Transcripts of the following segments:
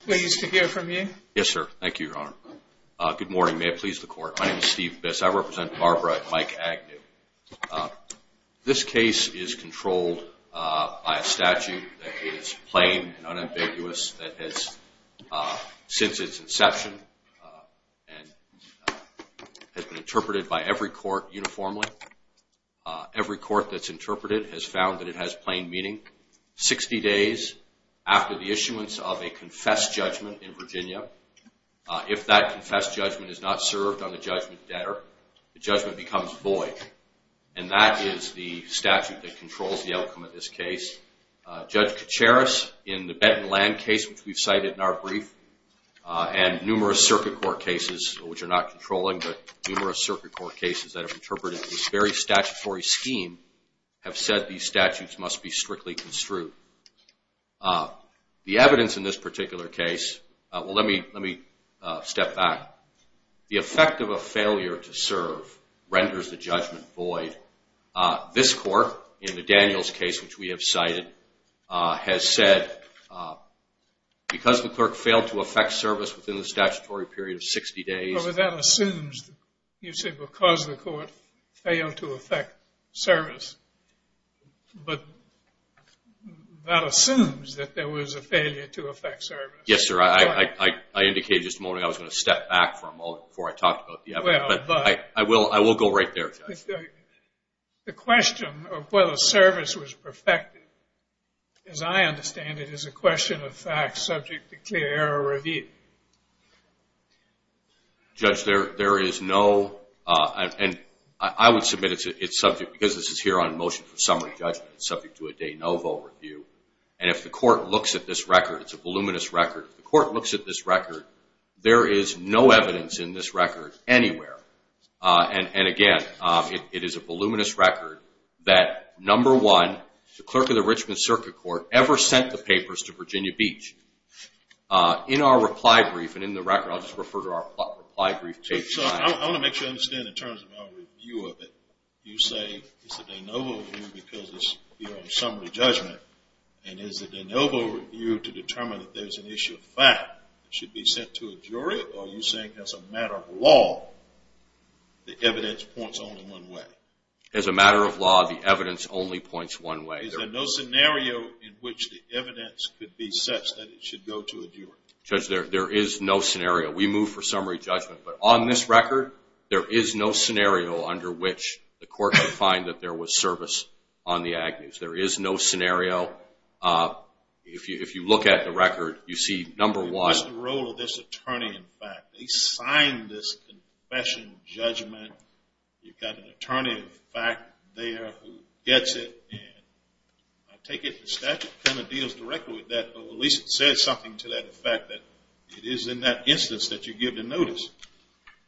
Pleased to hear from you. Yes, sir. Thank you, Your Honor. Good morning. May it please the court. My name is Steve Biss. I represent Barbara and Mike Agnew. This case is controlled by a statute that is plain and unambiguous that has since its inception and has been interpreted by every court uniformly. Every court that's interpreted has found that it has plain meaning. Sixty days after the issuance of a confessed judgment in Virginia, if that confessed judgment is not served on the judgment debtor, the judgment becomes void. And that is the statute that controls the outcome of this case. Judge Kacharis, in the Benton Land case, which we've cited in our brief, and numerous circuit court cases, which are not controlling, but numerous circuit court cases that have interpreted this very statutory scheme, have said these statutes must be strictly construed. The evidence in this particular case, well, let me step back. The effect of a failure to serve renders the judgment void. This court, in the Daniels case, which we have cited, has said because the clerk failed to effect service within the statutory period of 60 days. Well, that assumes, you said because the court failed to effect service, but that assumes that there was a failure to effect service. Yes, sir. I indicated just a moment ago I was going to step back for a moment before I talked about the evidence, but I will go right there. The question of whether service was perfected, as I understand it, is a question of fact subject to clear error review. Judge, there is no, and I would submit it's subject, because this is here on motion for summary judgment, it's subject to a de novo review, and if the court looks at this record, it's a voluminous record, if the court looks at this record, there is no evidence in this record anywhere. And again, it is a voluminous record that, number one, the clerk of the Richmond Circuit Court ever sent the papers to Virginia Beach. In our reply brief, and in the record, I'll just refer to our reply brief page. I want to make sure I understand in terms of our review of it. You say it's a de novo review because it's here on summary judgment, and is it a de novo review to determine if there's an issue of fact that should be sent to a jury, or are you saying as a matter of law, the evidence points only one way? As a matter of law, the evidence only points one way. Is there no scenario in which the evidence could be such that it should go to a jury? Judge, there is no scenario. We move for summary judgment, but on this record, there is no scenario under which the court could find that there was service on the agnews. There is no scenario. If you look at the record, you see, number one... What's the role of this attorney in fact? They signed this confession judgment. You've got an attorney in fact there who gets it, and I take it the statute kind of deals directly with that, or at least it says something to that effect that it is in that instance that you give the notice.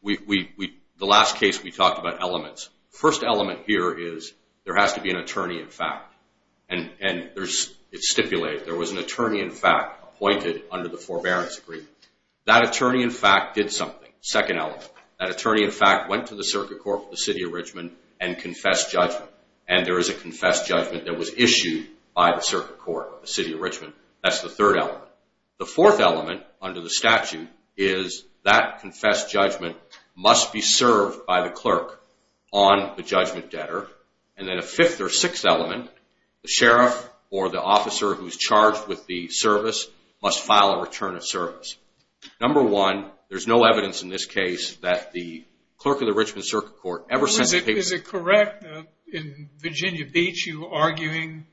The last case, we talked about elements. First element here is there has to be an attorney in fact, and it's stipulated. There was an attorney in fact appointed under the forbearance agreement. That attorney in fact did something, second element. That attorney in fact went to the circuit court of the city of Richmond and confessed judgment, and there is a confessed judgment that was issued by the circuit court of the city of Richmond. That's the third element. The fourth element under the statute is that confessed judgment must be served by the clerk on the judgment debtor, and then a fifth or sixth element, the sheriff or the officer who is charged with the service must file a return of service. Number one, there's no evidence in this case that the clerk of the Richmond circuit court ever... Is it correct that in Virginia Beach you were arguing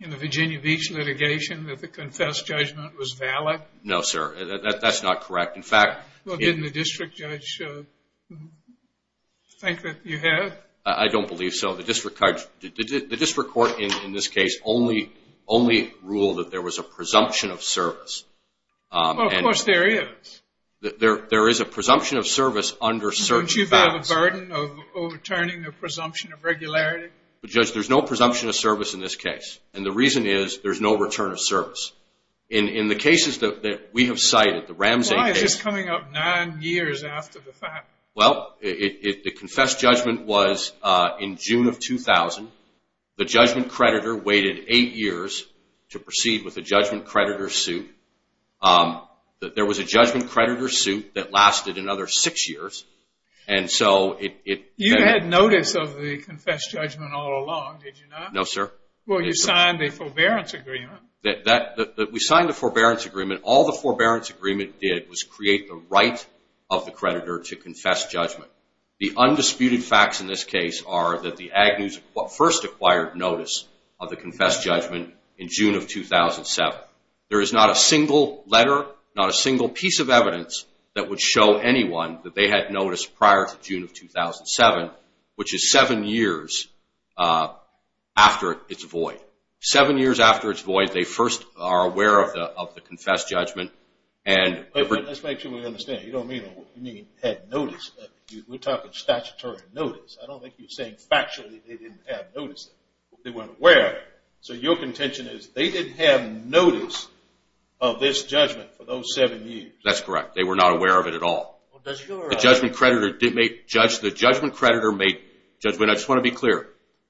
in the Virginia Beach litigation that the confessed judgment was valid? No sir, that's not correct. In fact... Well, didn't the district judge think that you had? I don't believe so. The district court in this case only ruled that there was a presumption of service. Well, of course there is. There is a presumption of service under certain facts. Don't you feel the burden of overturning the presumption of regularity? Judge, there's no presumption of service in this case, and the reason is there's no return of service. In the cases that we have cited, the Ramsey case... Why is this coming up nine years after the fact? Well, the confessed judgment was in June of 2000. The judgment creditor waited eight years to proceed with the judgment creditor suit. There was a judgment creditor suit that lasted another six years, and so it... You had notice of the confessed judgment all along, did you not? No sir. Well, you signed the forbearance agreement. We signed the forbearance agreement. All the forbearance agreement did was create the right of the creditor to confess judgment. The undisputed facts in this case are that the Agnews first acquired notice of the confessed judgment in June of 2007. There is not a single letter, not a single piece of evidence that would show anyone that they had notice prior to June of 2007, which is seven years after it's void. Seven years after it's void, they first are aware of the confessed judgment and... Let's make sure we understand. You don't mean had notice. We're talking statutory notice. I don't think you're saying factually they didn't have notice. They weren't aware. So your contention is they didn't have notice of this judgment for those seven years. That's correct. They were not aware of it at all. The judgment creditor may... I just want to be clear.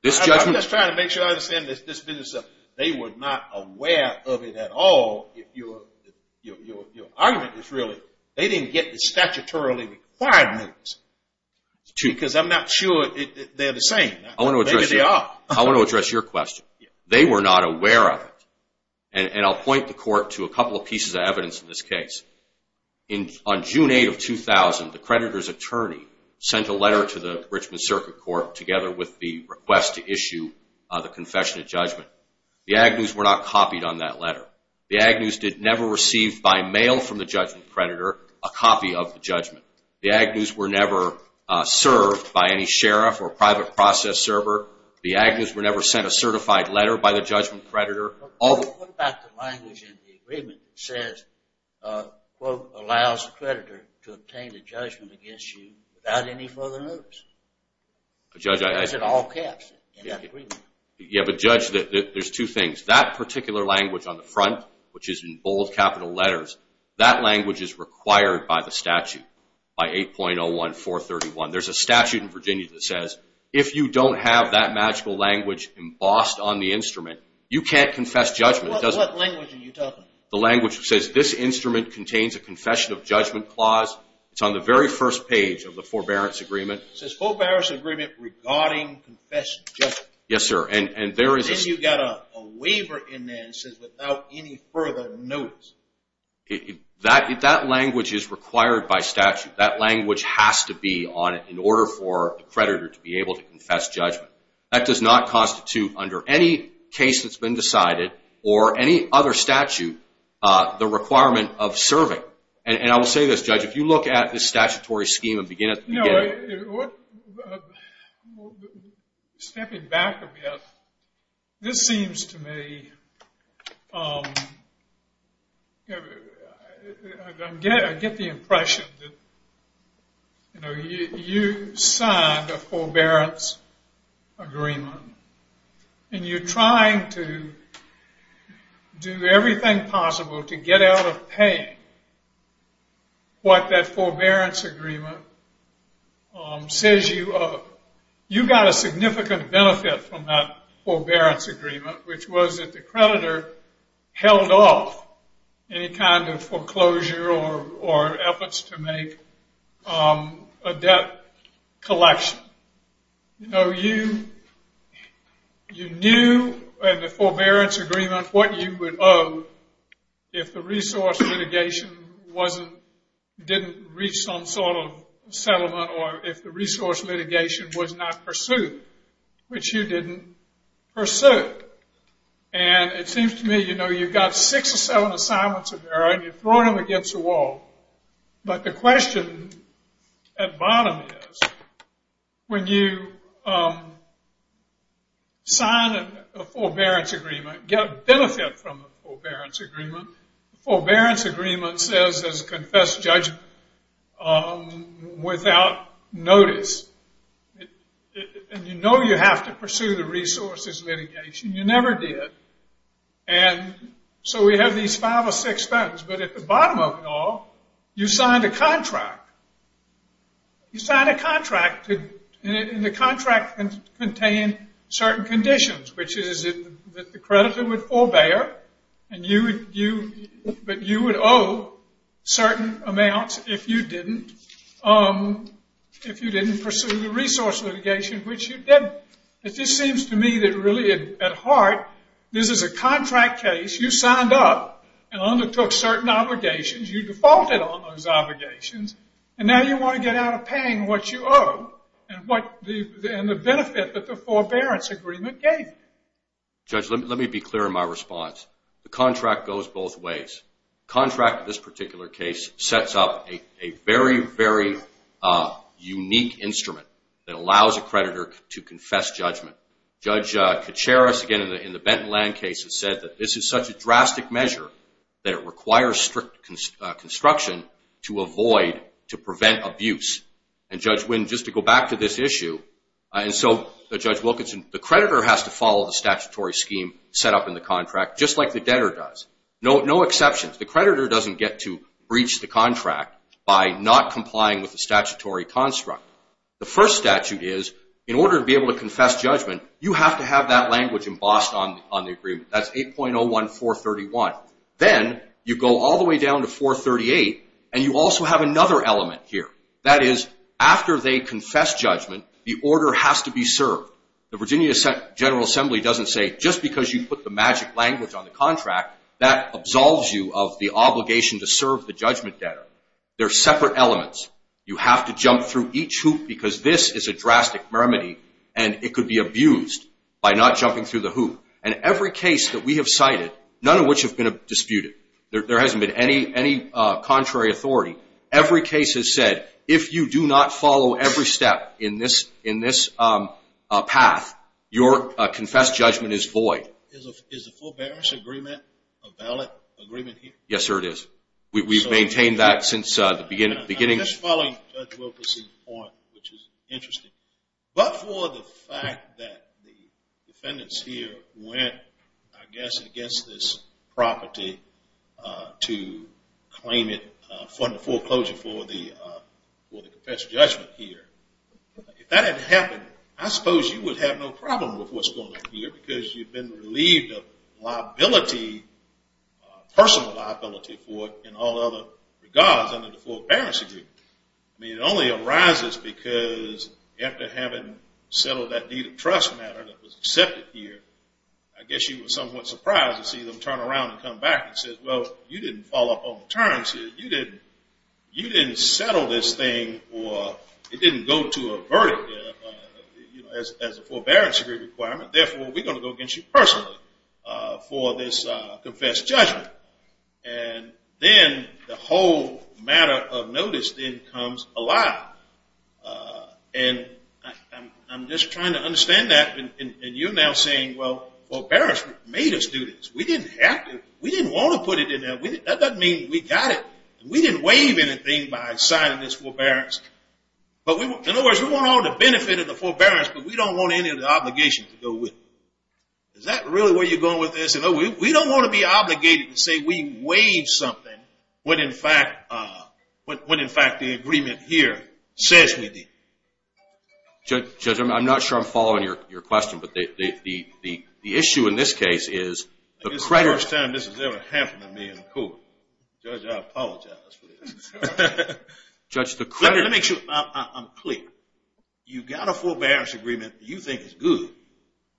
I'm just trying to make sure I understand this business. They were not aware of it at all. Your argument is really they didn't get the statutorily required notice. Because I'm not sure they're the same. Maybe they are. I want to address your question. They were not aware of it. And I'll point the court to a couple of pieces of evidence in this case. On June 8 of 2000, the creditor's attorney sent a letter to the Richmond Circuit Court together with the request to issue the confession of judgment. The agnus were not copied on that letter. The agnus did never receive by mail from the judgment creditor a copy of the judgment. The agnus were never served by any sheriff or private process server. The agnus were never sent a certified letter by the judgment creditor. But what about the language in the agreement that says, quote, allows the creditor to obtain the judgment against you without any further notice? Judge, I... I said all caps in that agreement. Yeah, but Judge, there's two things. That particular language on the front, which is in bold capital letters, that language is required by the statute, by 8.01431. There's a statute in Virginia that says if you don't have that magical language embossed on the instrument, you can't confess judgment. What language are you talking about? The language that says this instrument contains a confession of judgment clause. It's on the very first page of the forbearance agreement. It says forbearance agreement regarding confession of judgment. Yes, sir. And there is... And then you've got a waiver in there that says without any further notice. That language is required by statute. That language has to be on it in order for the creditor to be able to confess judgment. That does not constitute under any case that's been decided or any other statute the requirement of serving. And I will say this, Judge. If you look at this statutory scheme and begin at the beginning... No, what... Stepping back a bit, this seems to me... I get the impression that, you know, you signed a forbearance agreement and you're trying to do everything possible to get out of paying what that forbearance agreement says you owe. You got a significant benefit from that forbearance agreement, which was that the creditor held off any kind of foreclosure or efforts to make a debt collection. You know, you knew in the forbearance agreement what you would owe if the resource litigation didn't reach some sort of settlement or if the resource litigation was not pursued, which you didn't pursue. And it seems to me, you know, you've got six or seven assignments of error and you're throwing them against the wall. But the question at bottom is when you sign a forbearance agreement, get benefit from the forbearance agreement, the forbearance agreement says there's a confessed judgment without notice. And you know you have to pursue the resources litigation. You never did. And so we have these five or six things. But at the bottom of it all, you signed a contract. You signed a contract, and the contract contained certain conditions, which is that the creditor would forbear, but you would owe certain amounts if you didn't pursue the resource litigation, which you didn't. It just seems to me that really at heart this is a contract case. You signed up and undertook certain obligations. You defaulted on those obligations, and now you want to get out of paying what you owe and the benefit that the forbearance agreement gave you. Judge, let me be clear in my response. The contract goes both ways. The contract in this particular case sets up a very, very unique instrument that allows a creditor to confess judgment. Judge Kacharis, again, in the Benton Land case, has said that this is such a drastic measure that it requires strict construction to avoid, to prevent abuse. And Judge Winn, just to go back to this issue, and so Judge Wilkinson, the creditor has to follow the statutory scheme set up in the contract, just like the debtor does. No exceptions. The creditor doesn't get to breach the contract by not complying with the statutory construct. The first statute is, in order to be able to confess judgment, you have to have that language embossed on the agreement. That's 8.01431. Then you go all the way down to 438, and you also have another element here. That is, after they confess judgment, the order has to be served. The Virginia General Assembly doesn't say, just because you put the magic language on the contract, that absolves you of the obligation to serve the judgment debtor. They're separate elements. You have to jump through each hoop because this is a drastic remedy, and it could be abused by not jumping through the hoop. And every case that we have cited, none of which have been disputed, there hasn't been any contrary authority, every case has said, if you do not follow every step in this path, your confessed judgment is void. Is the forbearance agreement a valid agreement here? Yes, sir, it is. We've maintained that since the beginning. I'm just following Judge Wilkerson's point, which is interesting. against this property to claim it under foreclosure for the confessed judgment here. If that had happened, I suppose you would have no problem with what's going on here because you've been relieved of liability, personal liability for it in all other regards under the forbearance agreement. I mean, it only arises because after having settled that deed of trust matter that was accepted here, I guess you were somewhat surprised to see them turn around and come back and say, well, you didn't follow up on the terms here. You didn't settle this thing or it didn't go to a verdict as a forbearance agreement requirement. Therefore, we're going to go against you personally for this confessed judgment. And then the whole matter of notice then comes alive. And I'm just trying to understand that. And you're now saying, well, forbearance made us do this. We didn't have to. We didn't want to put it in there. That doesn't mean we got it. We didn't waive anything by signing this forbearance. In other words, we want all the benefit of the forbearance, but we don't want any of the obligations to go with it. Is that really where you're going with this? We don't want to be obligated to say we waived something when, in fact, the agreement here says we did. Judge, I'm not sure I'm following your question, but the issue in this case is the credit. This is the first time this has ever happened to me in court. Judge, I apologize for this. Judge, the credit. Let me make sure I'm clear. You've got a forbearance agreement that you think is good,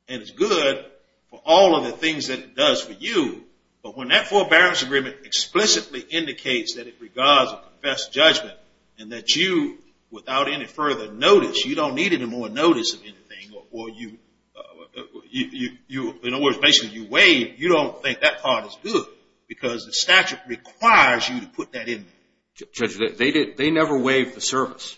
and it's good for all of the things that it does for you. But when that forbearance agreement explicitly indicates that it regards or confesses judgment and that you, without any further notice, you don't need any more notice of anything or you, in other words, basically you waive, you don't think that part is good because the statute requires you to put that in there. Judge, they never waived the service.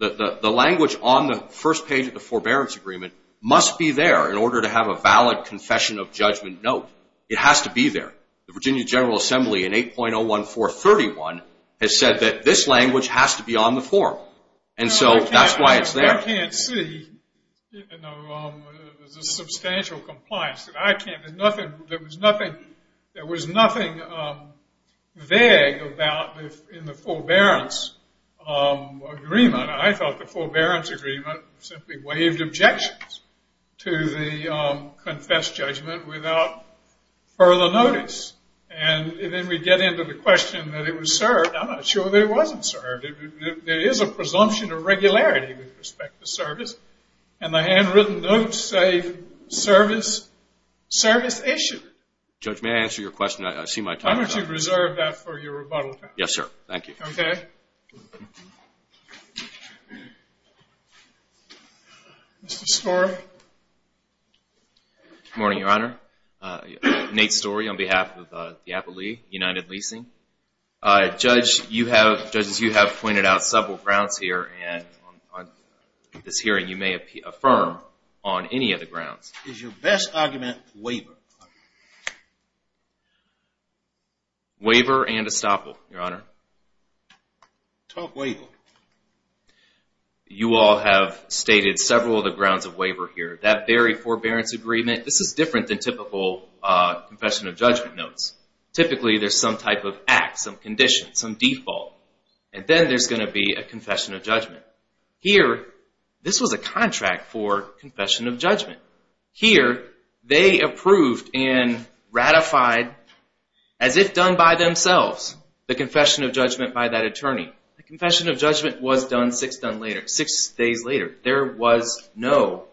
The language on the first page of the forbearance agreement must be there in order to have a valid confession of judgment note. It has to be there. The Virginia General Assembly in 8.01431 has said that this language has to be on the form, and so that's why it's there. I can't see the substantial compliance. I can't. There was nothing vague about in the forbearance agreement. I thought the forbearance agreement simply waived objections to the confessed judgment without further notice. And then we get into the question that it was served. I'm not sure that it wasn't served. There is a presumption of regularity with respect to service, and the handwritten notes say service issue. Judge, may I answer your question? I see my time is up. Why don't you reserve that for your rebuttal time? Yes, sir. Thank you. Okay. Mr. Storey. Good morning, Your Honor. Nate Storey on behalf of the Appalachee United Leasing. Judge, you have pointed out several grounds here, and on this hearing you may affirm on any of the grounds. Is your best argument waiver? Waiver and estoppel, Your Honor. Talk waiver. You all have stated several of the grounds of waiver here. That very forbearance agreement, this is different than typical confession of judgment notes. Typically there's some type of act, some condition, some default, and then there's going to be a confession of judgment. Here, this was a contract for confession of judgment. Here, they approved and ratified as if done by themselves the confession of judgment by that attorney. The confession of judgment was done six days later. There was no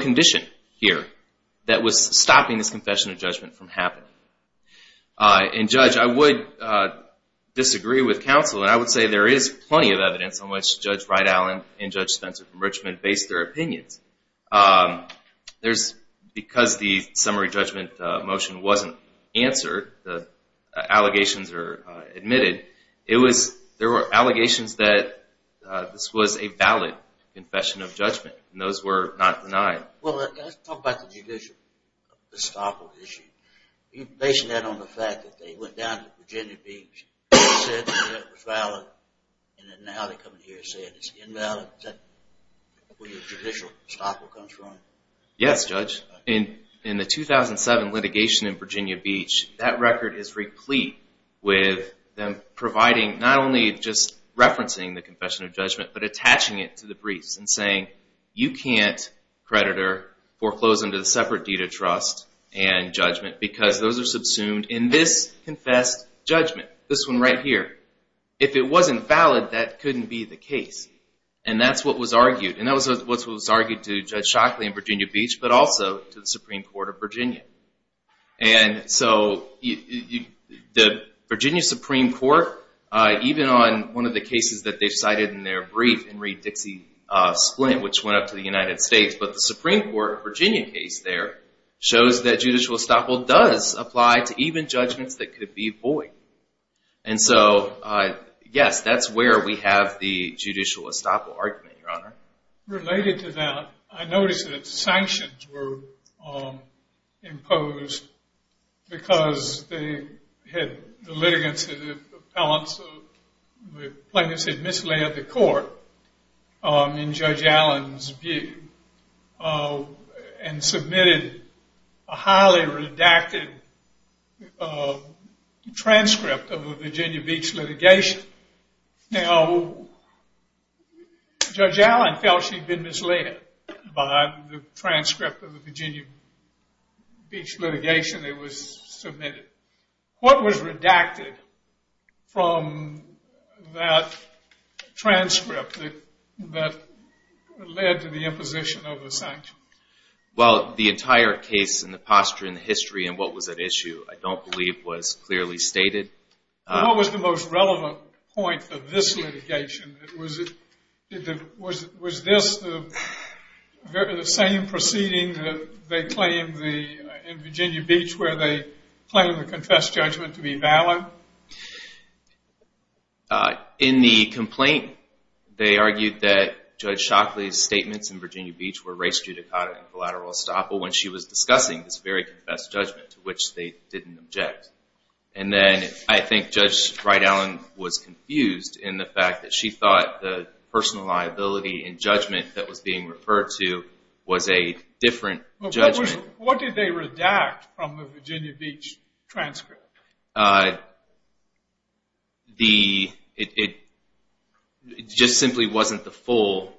condition here. That was stopping this confession of judgment from happening. And, Judge, I would disagree with counsel, and I would say there is plenty of evidence on which Judge Wright-Allen and Judge Spencer from Richmond based their opinions. Because the summary judgment motion wasn't answered, the allegations are admitted, there were allegations that this was a valid confession of judgment, and those were not denied. Well, let's talk about the judicial estoppel issue. You base that on the fact that they went down to Virginia Beach and said that it was valid, and then now they come in here and say it's invalid. Is that where your judicial estoppel comes from? Yes, Judge. In the 2007 litigation in Virginia Beach, that record is replete with them providing, not only just referencing the confession of judgment, but attaching it to the briefs and saying, you can't, creditor, foreclose under the separate deed of trust and judgment because those are subsumed in this confessed judgment, this one right here. If it wasn't valid, that couldn't be the case. And that's what was argued. And that's what was argued to Judge Shockley in Virginia Beach, but also to the Supreme Court of Virginia. And so the Virginia Supreme Court, even on one of the cases that they cited in their brief, Henry Dixie Splint, which went up to the United States, but the Supreme Court Virginia case there shows that judicial estoppel does apply to even judgments that could be void. And so, yes, that's where we have the judicial estoppel argument, Your Honor. Related to that, I noticed that sanctions were imposed because the litigants, the plaintiffs, had misled the court in Judge Allen's view and submitted a highly redacted transcript of the Virginia Beach litigation. Now, Judge Allen felt she'd been misled by the transcript of the Virginia Beach litigation that was submitted. What was redacted from that transcript that led to the imposition of the sanctions? Well, the entire case and the posture and the history and what was at issue, I don't believe, was clearly stated. What was the most relevant point of this litigation? Was this the same proceeding that they claimed in Virginia Beach where they claimed the confessed judgment to be valid? In the complaint, they argued that Judge Shockley's statements in Virginia Beach were race judicata and collateral estoppel when she was discussing this very confessed judgment to which they didn't object. And then I think Judge Wright Allen was confused in the fact that she thought the personal liability and judgment that was being referred to was a different judgment. But what did they redact from the Virginia Beach transcript? It just simply wasn't the full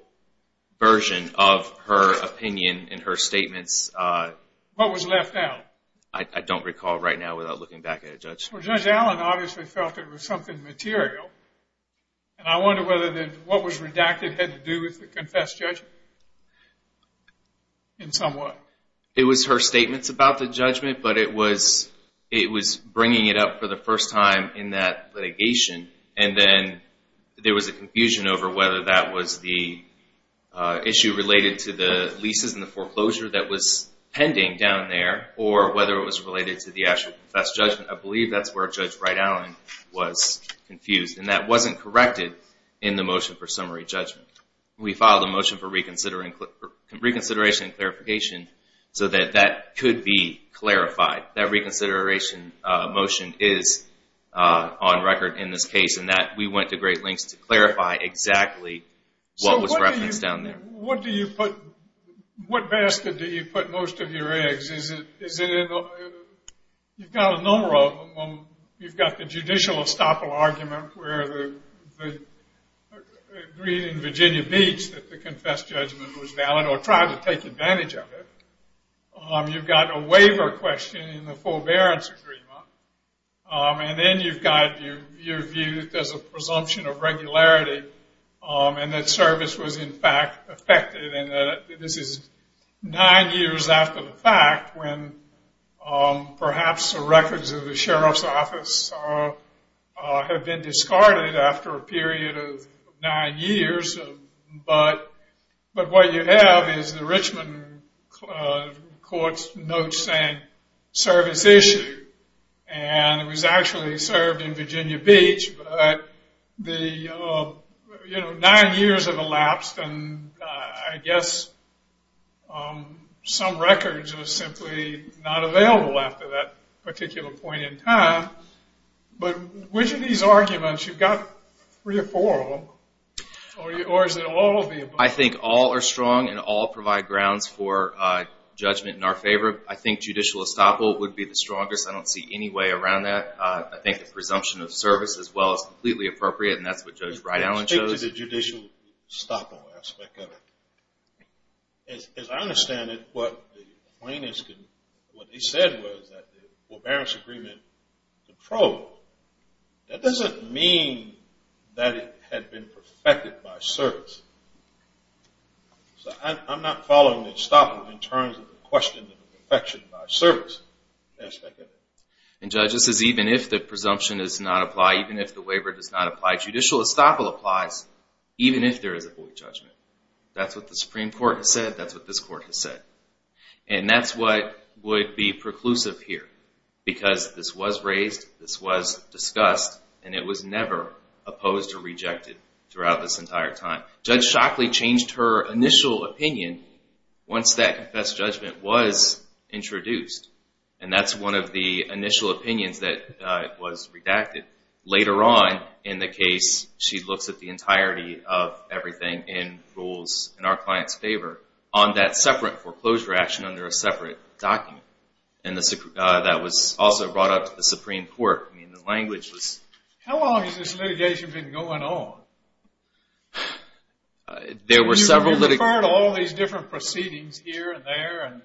version of her opinion and her statements. What was left out? I don't recall right now without looking back at it, Judge. Well, Judge Allen obviously felt it was something material. And I wonder whether what was redacted had to do with the confessed judgment in some way. It was her statements about the judgment, but it was bringing it up for the first time in that litigation. And then there was a confusion over whether that was the issue related to the leases and the foreclosure that was pending down there or whether it was related to the actual confessed judgment. I believe that's where Judge Wright Allen was confused. And that wasn't corrected in the motion for summary judgment. We filed a motion for reconsideration and clarification so that that could be clarified. That reconsideration motion is on record in this case, and we went to great lengths to clarify exactly what was referenced down there. So what do you put... What basket do you put most of your eggs? Is it in the... You've got a number of them. You've got the judicial estoppel argument where the... agreed in Virginia Beach that the confessed judgment was valid or tried to take advantage of it. You've got a waiver question in the forbearance agreement. And then you've got your view that there's a presumption of regularity and that service was, in fact, affected. And this is nine years after the fact when perhaps the records of the sheriff's office have been discarded after a period of nine years. But what you have is the Richmond court's notes saying service issue. And it was actually served in Virginia Beach. But the, you know, nine years have elapsed, and I guess some records are simply not available after that particular point in time. But which of these arguments? You've got three or four of them, or is it all of the above? I think all are strong and all provide grounds for judgment in our favor. I think judicial estoppel would be the strongest. I don't see any way around that. I think the presumption of service as well is completely appropriate, and that's what Judge Wright-Allen chose. Speak to the judicial estoppel aspect of it. As I understand it, what the plaintiffs can, what they said was that the forbearance agreement was approved. That doesn't mean that it had been perfected by service. So I'm not following the estoppel in terms of the question of perfection by service aspect of it. And, Judge, this is even if the presumption does not apply, even if the waiver does not apply. Judicial estoppel applies even if there is a void judgment. That's what the Supreme Court has said. That's what this Court has said. And that's what would be preclusive here because this was raised, this was discussed, and it was never opposed or rejected throughout this entire time. Judge Shockley changed her initial opinion once that confessed judgment was introduced, and that's one of the initial opinions that was redacted. Later on in the case, she looks at the entirety of everything in rules in our client's favor on that separate foreclosure action under a separate document. And that was also brought up to the Supreme Court. I mean, the language was... How long has this litigation been going on? There were several... You've heard all these different proceedings here and there in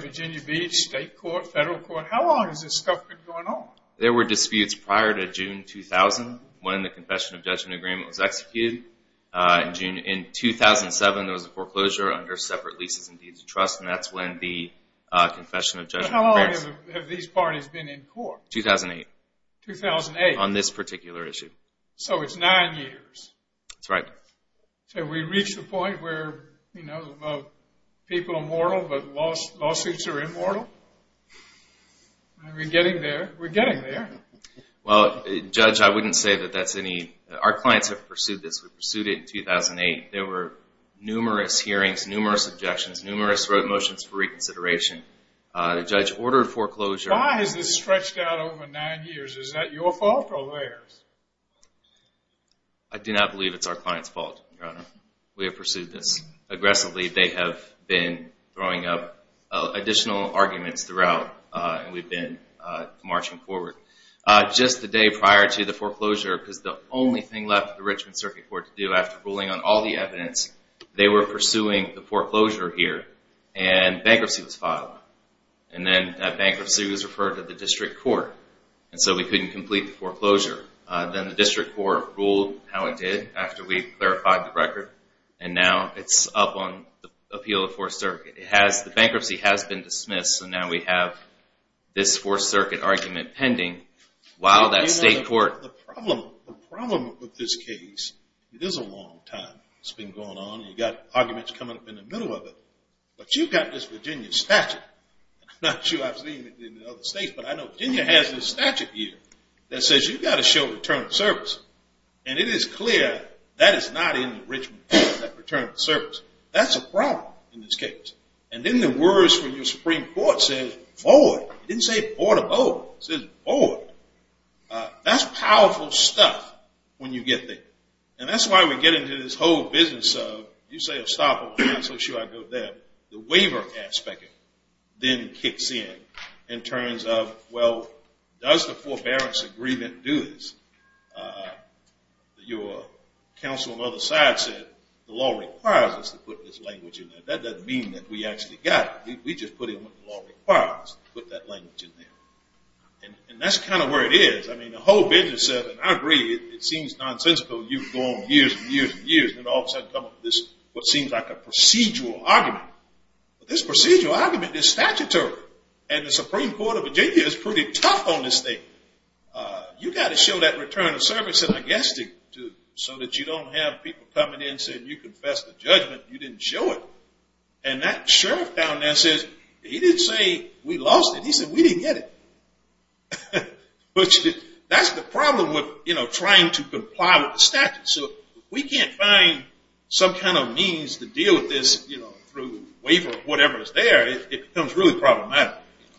Virginia Beach, state court, federal court. How long has this stuff been going on? There were disputes prior to June 2000 when the confession of judgment agreement was executed. In 2007, there was a foreclosure under separate leases and deeds of trust, and that's when the confession of judgment... How long have these parties been in court? 2008. 2008. On this particular issue. So it's nine years. That's right. Have we reached the point where, you know, people are mortal but lawsuits are immortal? Are we getting there? We're getting there. Well, Judge, I wouldn't say that that's any... Our clients have pursued this. We pursued it in 2008. There were numerous hearings, numerous objections, numerous motions for reconsideration. The judge ordered foreclosure... Why has this stretched out over nine years? Is that your fault or theirs? I do not believe it's our client's fault, Your Honor. We have pursued this. Aggressively, they have been throwing up additional arguments throughout, and we've been marching forward. Just the day prior to the foreclosure, because the only thing left for the Richmond Circuit Court to do after ruling on all the evidence, they were pursuing the foreclosure here, and bankruptcy was filed. And then that bankruptcy was referred to the district court, and so we couldn't complete the foreclosure. Then the district court ruled how it did after we clarified the record, and now it's up on the appeal of the Fourth Circuit. The bankruptcy has been dismissed, and now we have this Fourth Circuit argument pending while that state court... The problem with this case, it is a long time. It's been going on, and you've got arguments coming up in the middle of it. But you've got this Virginia statute. I'm not sure I've seen it in other states, but I know Virginia has this statute here that says you've got to show return of service. And it is clear that is not in the Richmond case, that return of service. That's a problem in this case. And then the words from your Supreme Court says void. It didn't say board of oath. It says void. That's powerful stuff when you get there. And that's why we get into this whole business of, you say a stop over here, so should I go there? The waiver aspect of it then kicks in in terms of, well, does the forbearance agreement do this? Your counsel on the other side said, the law requires us to put this language in there. That doesn't mean that we actually got it. We just put in what the law requires, put that language in there. And that's kind of where it is. I mean, the whole business of it, and I agree, it seems nonsensical. You can go on years and years and years, and then all of a sudden come up with this, what seems like a procedural argument. But this procedural argument is statutory. And the Supreme Court of Virginia is pretty tough on this thing. You've got to show that return of service, and I guess so that you don't have people coming in saying you confessed to judgment, you didn't show it. And that sheriff down there says, he didn't say we lost it. He said we didn't get it. That's the problem with trying to comply with the statute. So if we can't find some kind of means to deal with this through waiver or whatever is there, it becomes really problematic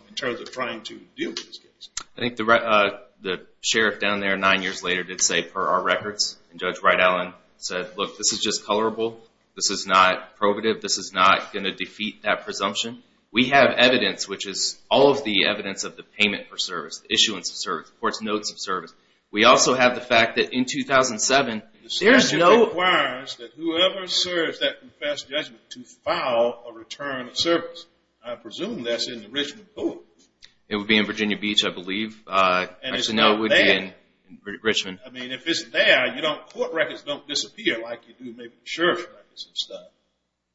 in terms of trying to deal with this case. I think the sheriff down there nine years later did say, per our records, and Judge Wright-Allen said, look, this is just colorable. This is not probative. This is not going to defeat that presumption. We have evidence, which is all of the evidence of the payment for service, the issuance of service, the court's notes of service. We also have the fact that in 2007, there is no- The statute requires that whoever serves that confessed judgment to file a return of service. I presume that's in the Richmond book. It would be in Virginia Beach, I believe. And it's not there. I should know it would be in Richmond. I mean, if it's there, court records don't disappear like you do maybe the sheriff's records and stuff.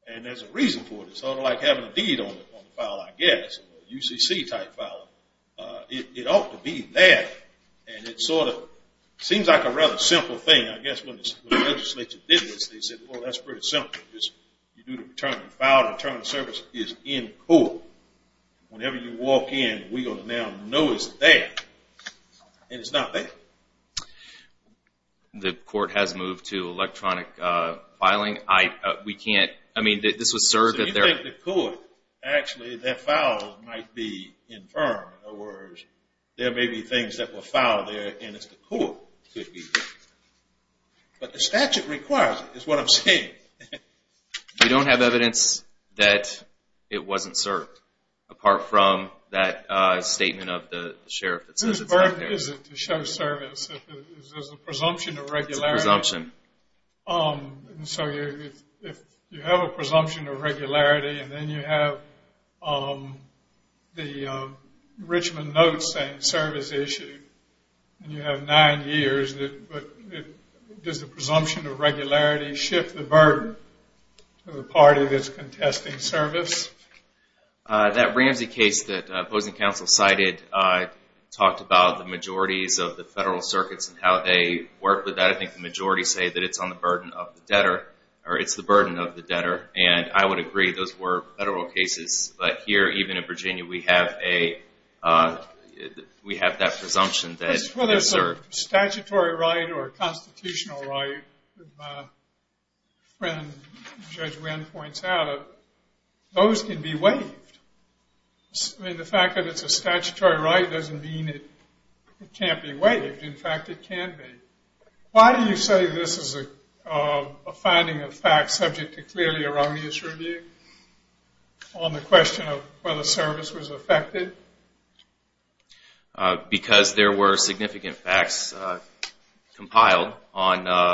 And there's a reason for it. It's sort of like having a deed on the file, I guess, a UCC-type file. It ought to be there. And it sort of seems like a rather simple thing, I guess, when the legislature did this. They said, well, that's pretty simple. You file a return of service. It's in court. Whenever you walk in, we're going to now know it's there. And it's not there. The court has moved to electronic filing. We can't- I mean, this was served at their- So you think the court, actually, that file might be infirmed. In other words, there may be things that were filed there, and it's the court. But the statute requires it, is what I'm saying. We don't have evidence that it wasn't served, apart from that statement of the sheriff that says it's not there. Whose birth is it to show service? Is this a presumption of regularity? It's a presumption. So if you have a presumption of regularity, and then you have the Richmond notes saying service issued, and you have nine years, does the presumption of regularity shift the burden to the party that's contesting service? That Ramsey case that opposing counsel cited talked about the majorities of the federal circuits and how they work with that. I think the majorities say that it's on the burden of the debtor, or it's the burden of the debtor. And I would agree those were federal cases. But here, even in Virginia, we have that presumption that it's served. Whether it's a statutory right or a constitutional right, as my friend Judge Winn points out, those can be waived. I mean, the fact that it's a statutory right doesn't mean it can't be waived. In fact, it can be. Why do you say this is a finding of fact subject to clearly erroneous review on the question of whether service was affected? Because there were significant facts compiled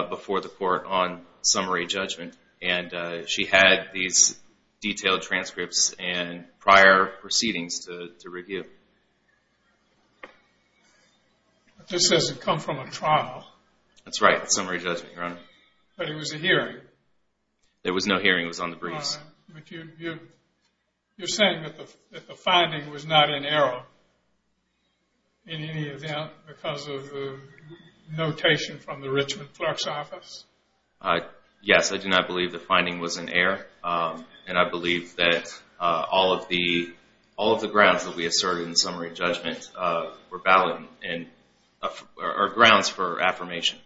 before the court on summary judgment, and she had these detailed transcripts and prior proceedings to review. But this doesn't come from a trial. That's right. Summary judgment, Your Honor. But it was a hearing. There was no hearing. It was on the briefs. But you're saying that the finding was not in error in any event because of the notation from the Richmond clerk's office? Yes, I do not believe the finding was in error, and I believe that all of the grounds that we asserted in summary judgment were valid and are grounds for affirmation.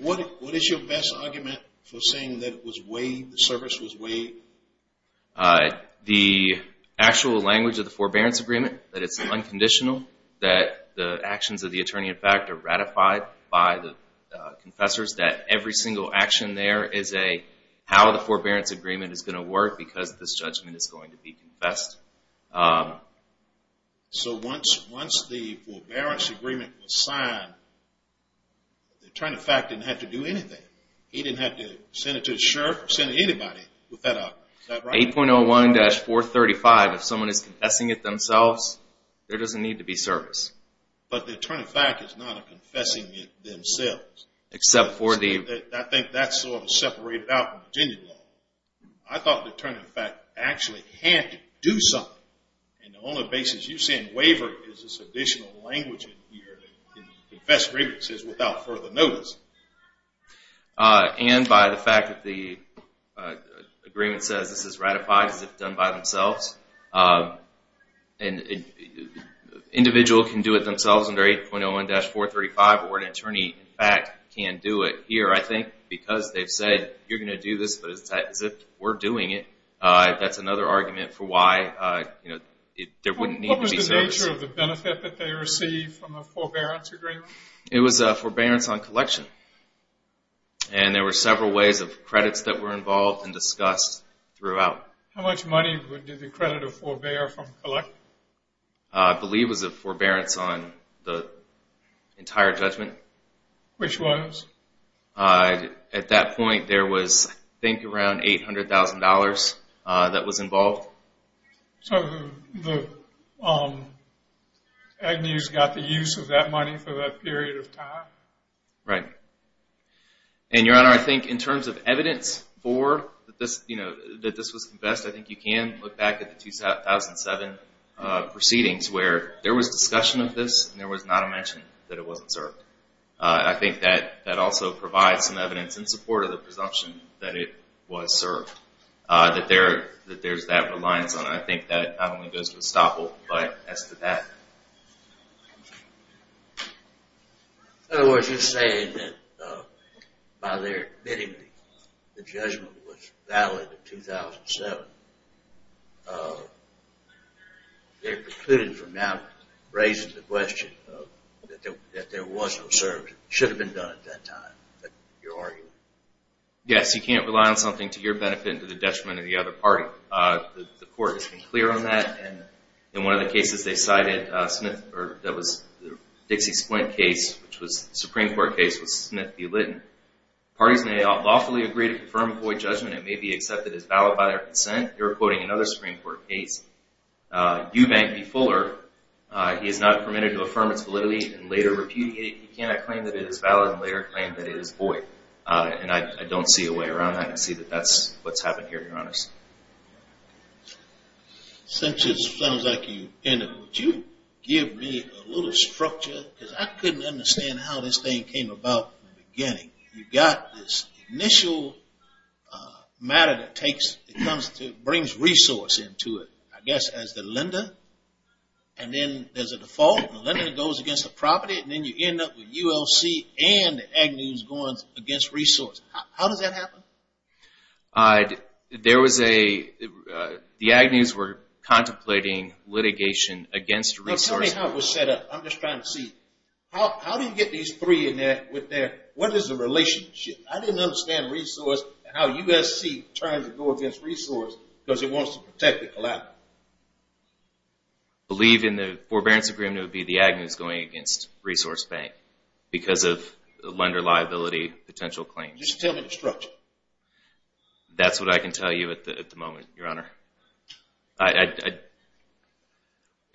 What is your best argument for saying that it was waived, the service was waived? The actual language of the forbearance agreement, that it's unconditional, that the actions of the attorney in fact are ratified by the confessors, that every single action there is a how the forbearance agreement is going to So once the forbearance agreement was signed, the attorney in fact didn't have to do anything. He didn't have to send it to the sheriff or send it to anybody. Is that right? 8.01-435, if someone is confessing it themselves, there doesn't need to be service. But the attorney in fact is not a confessing it themselves. I think that's sort of separated out from Virginia law. I thought the attorney in fact actually had to do something, and the only basis you see in waiver is this additional language in here, the confessory that says without further notice. And by the fact that the agreement says this is ratified as if done by themselves, an individual can do it themselves under 8.01-435, or an attorney in fact can do it here, I think, because they've said you're going to do this as if we're doing it. That's another argument for why there wouldn't need to be service. What was the nature of the benefit that they received from the forbearance agreement? It was a forbearance on collection, and there were several ways of credits that were involved and discussed throughout. How much money did the creditor forbear from collection? I believe it was a forbearance on the entire judgment. Which was? At that point there was I think around $800,000 that was involved. So Agnews got the use of that money for that period of time? Right. And, Your Honor, I think in terms of evidence that this was confessed, I think you can look back at the 2007 proceedings where there was discussion of this and there was not a mention that it wasn't served. I think that also provides some evidence in support of the presumption that it was served. That there's that reliance on it. I think that not only goes to Estoppel, but as to that. In other words, you're saying that by their admitting the judgment was valid in 2007, they're precluding from now raising the question that there was no service. It should have been done at that time, your argument. Yes, you can't rely on something to your benefit and to the detriment of the other party. The court has been clear on that. In one of the cases they cited, that was the Dixie-Splint case, which was a Supreme Court case with Smith v. Litton, Parties may lawfully agree to confirm a void judgment. It may be accepted as valid by their consent. You're quoting another Supreme Court case, Eubank v. Fuller. He is not permitted to affirm its validity and later repudiate it. He cannot claim that it is valid and later claim that it is void. And I don't see a way around that. I see that that's what's happened here, Your Honor. Since it sounds like you ended, would you give me a little structure? Because I couldn't understand how this thing came about in the beginning. You've got this initial matter that brings resource into it, I guess, as the lender. And then there's a default, and the lender goes against the property, and then you end up with ULC and the agnews going against resource. How does that happen? The agnews were contemplating litigation against resource. That's not how it was set up. I'm just trying to see. How do you get these three in there? What is the relationship? I didn't understand resource and how USC turned to go against resource because it wants to protect the collateral. I believe in the forbearance agreement, it would be the agnews going against resource bank because of the lender liability potential claims. Just tell me the structure. That's what I can tell you at the moment, Your Honor.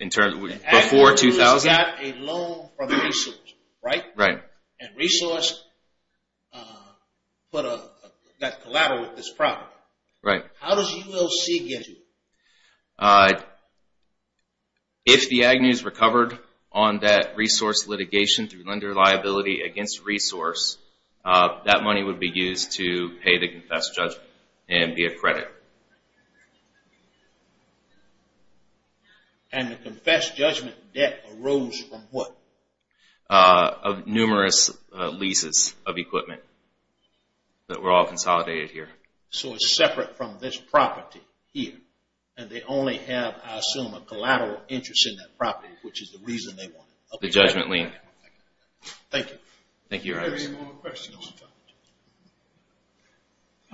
Before 2000? Agnews got a loan from resource, right? Right. And resource got collateral with this property. Right. How does ULC get to it? If the agnews recovered on that resource litigation through lender liability against resource, that money would be used to pay the confessed judgment and be a credit. And the confessed judgment debt arose from what? Of numerous leases of equipment that were all consolidated here. So it's separate from this property here. And they only have, I assume, a collateral interest in that property, which is the reason they want it. The judgment lien. Thank you. Thank you, Your Honor. Are there any more questions? No, Your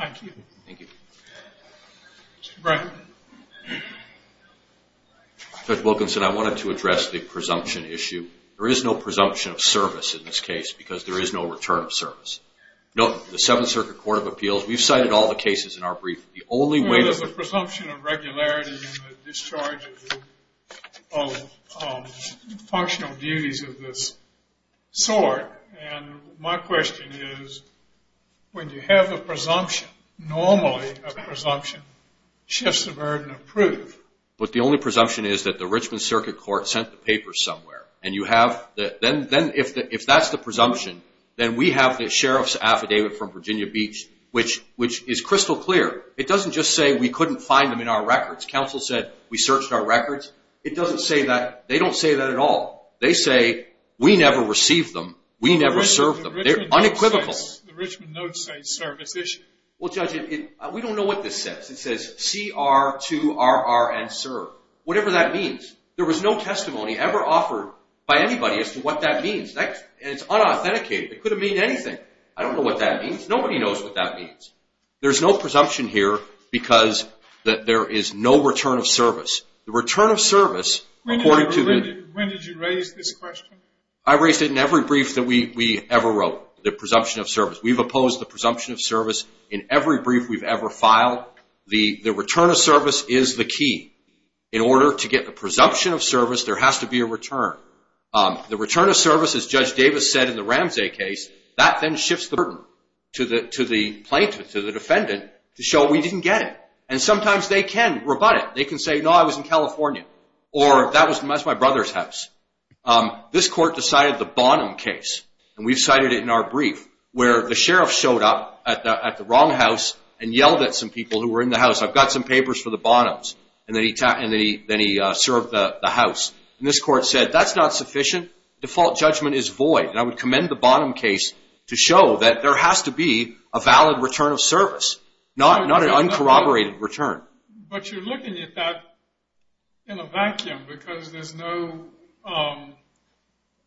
Honor. Thank you. Thank you. Mr. Bratton. Judge Wilkinson, I wanted to address the presumption issue. There is no presumption of service in this case because there is no return of service. Note, the Seventh Circuit Court of Appeals, we've cited all the cases in our brief. The only way that the presumption of regularity in the discharge of functional duties of this sort, and my question is, when you have a presumption, normally a presumption shifts the burden of proof. But the only presumption is that the Richmond Circuit Court sent the papers somewhere. And you have the – then if that's the presumption, then we have the sheriff's affidavit from Virginia Beach, which is crystal clear. It doesn't just say we couldn't find them in our records. Counsel said we searched our records. It doesn't say that. They don't say that at all. They say we never received them. We never served them. They're unequivocal. The Richmond note says service issue. Well, Judge, we don't know what this says. It says CR2RR and serve, whatever that means. There was no testimony ever offered by anybody as to what that means. And it's unauthenticated. It could have meant anything. I don't know what that means. Nobody knows what that means. There's no presumption here because there is no return of service. The return of service, according to the – When did you raise this question? I raised it in every brief that we ever wrote, the presumption of service. We've opposed the presumption of service in every brief we've ever filed. The return of service is the key. In order to get the presumption of service, there has to be a return. The return of service, as Judge Davis said in the Ramsey case, that then shifts the burden to the plaintiff, to the defendant, to show we didn't get it. And sometimes they can rebut it. They can say, no, I was in California, or that was my brother's house. This court decided the Bonham case, and we've cited it in our brief, where the sheriff showed up at the wrong house and yelled at some people who were in the house, I've got some papers for the Bonhams, and then he served the house. And this court said, that's not sufficient. Default judgment is void. And I would commend the Bonham case to show that there has to be a valid return of service, not an uncorroborated return. But you're looking at that in a vacuum because there's no,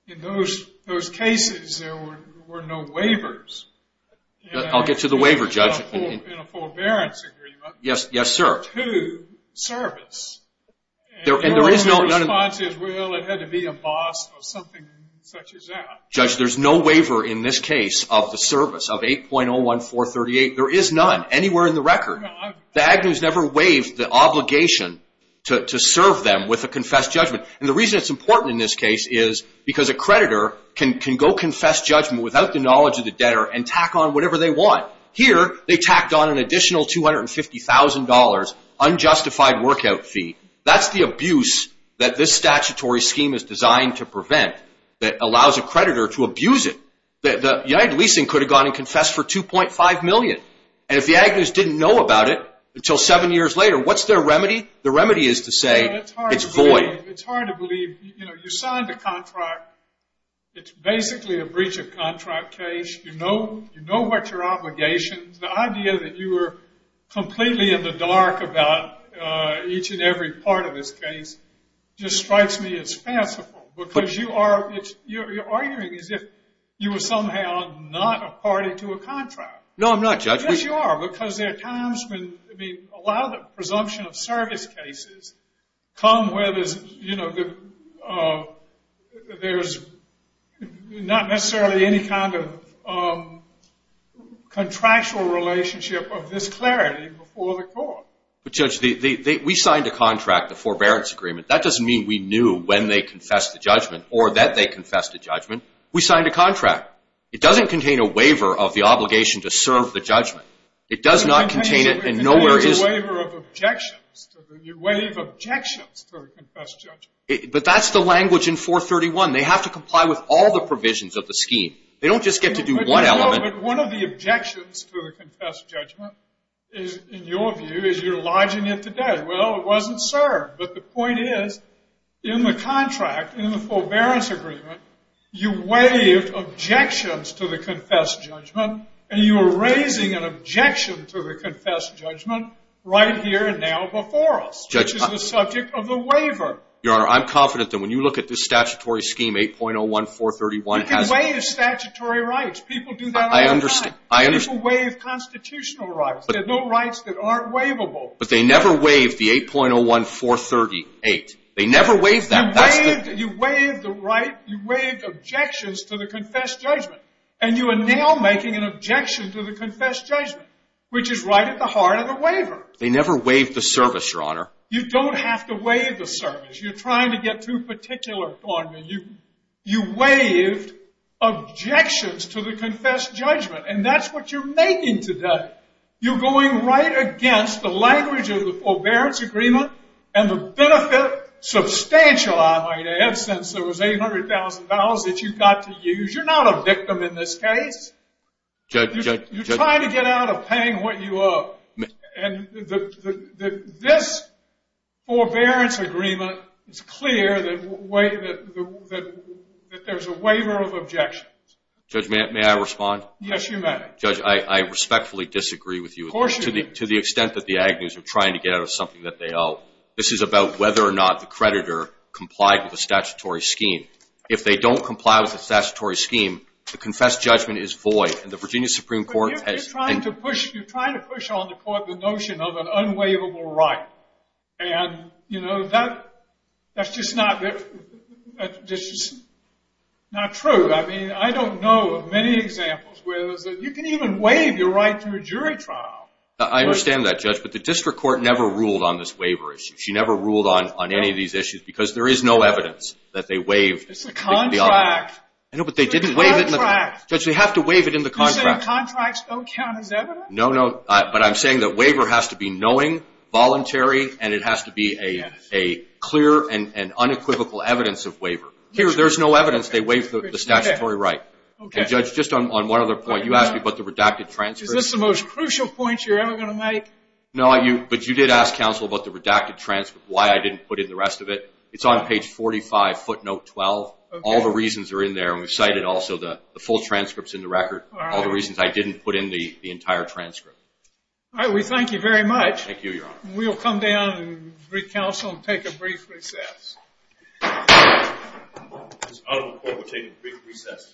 in those cases, there were no waivers. I'll get to the waiver, Judge. In a forbearance agreement. Yes, sir. To service. And the response is, well, it had to be a boss or something such as that. Judge, there's no waiver in this case of the service of 8.01438. There is none anywhere in the record. The Agnews never waived the obligation to serve them with a confessed judgment. And the reason it's important in this case is because a creditor can go confess judgment without the knowledge of the debtor and tack on whatever they want. Here, they tacked on an additional $250,000 unjustified workout fee. That's the abuse that this statutory scheme is designed to prevent that allows a creditor to abuse it. United Leasing could have gone and confessed for $2.5 million. And if the Agnews didn't know about it until seven years later, what's their remedy? The remedy is to say it's void. It's hard to believe. You signed a contract. It's basically a breach of contract case. You know what your obligations. The idea that you were completely in the dark about each and every part of this case just strikes me as fanciful. Because you are arguing as if you were somehow not a party to a contract. No, I'm not, Judge. Yes, you are. Because a lot of the presumption of service cases come where there's not necessarily any kind of contractual relationship of this clarity before the court. But, Judge, we signed a contract, the forbearance agreement. That doesn't mean we knew when they confessed the judgment or that they confessed the judgment. We signed a contract. It doesn't contain a waiver of the obligation to serve the judgment. It does not contain it and nowhere is it. It contains a waiver of objections. You waive objections to the confessed judgment. But that's the language in 431. They have to comply with all the provisions of the scheme. They don't just get to do one element. But one of the objections to the confessed judgment is, in your view, is you're lodging it today. Well, it wasn't served. But the point is, in the contract, in the forbearance agreement, you waived objections to the confessed judgment, and you were raising an objection to the confessed judgment right here and now before us, which is the subject of the waiver. Your Honor, I'm confident that when you look at this statutory scheme, 8.01431, it has it. You can waive statutory rights. People do that all the time. I understand. People waive constitutional rights. There are no rights that aren't waivable. But they never waived the 8.01438. They never waived that. You waived the right. You waived objections to the confessed judgment, and you are now making an objection to the confessed judgment, which is right at the heart of the waiver. They never waived the service, Your Honor. You don't have to waive the service. You're trying to get too particular on me. You waived objections to the confessed judgment, and that's what you're making today. You're going right against the language of the forbearance agreement and the benefit substantial, I might add, since there was $800,000 that you got to use. You're not a victim in this case. Judge. You're trying to get out of paying what you owe. And this forbearance agreement is clear that there's a waiver of objections. Judge, may I respond? Yes, you may. Judge, I respectfully disagree with you. Of course you do. To the extent that the Agnews are trying to get out of something that they owe. This is about whether or not the creditor complied with the statutory scheme. If they don't comply with the statutory scheme, the confessed judgment is void, and the Virginia Supreme Court has been- But you're trying to push on the court the notion of an unwaivable right. And, you know, that's just not true. I mean, I don't know of many examples where you can even waive your right through a jury trial. I understand that, Judge, but the district court never ruled on this waiver issue. She never ruled on any of these issues because there is no evidence that they waived. It's a contract. I know, but they didn't waive it in the contract. Judge, they have to waive it in the contract. You're saying contracts don't count as evidence? No, no, but I'm saying that waiver has to be knowing, voluntary, and it has to be a clear and unequivocal evidence of waiver. There's no evidence they waived the statutory right. And, Judge, just on one other point, you asked me about the redacted transcripts. Is this the most crucial point you're ever going to make? No, but you did ask counsel about the redacted transcript, why I didn't put in the rest of it. It's on page 45, footnote 12. All the reasons are in there, and we've cited also the full transcripts in the record, all the reasons I didn't put in the entire transcript. All right, we thank you very much. Thank you, Your Honor. We'll come down and recounsel and take a brief recess. This is honorable court, we'll take a brief recess.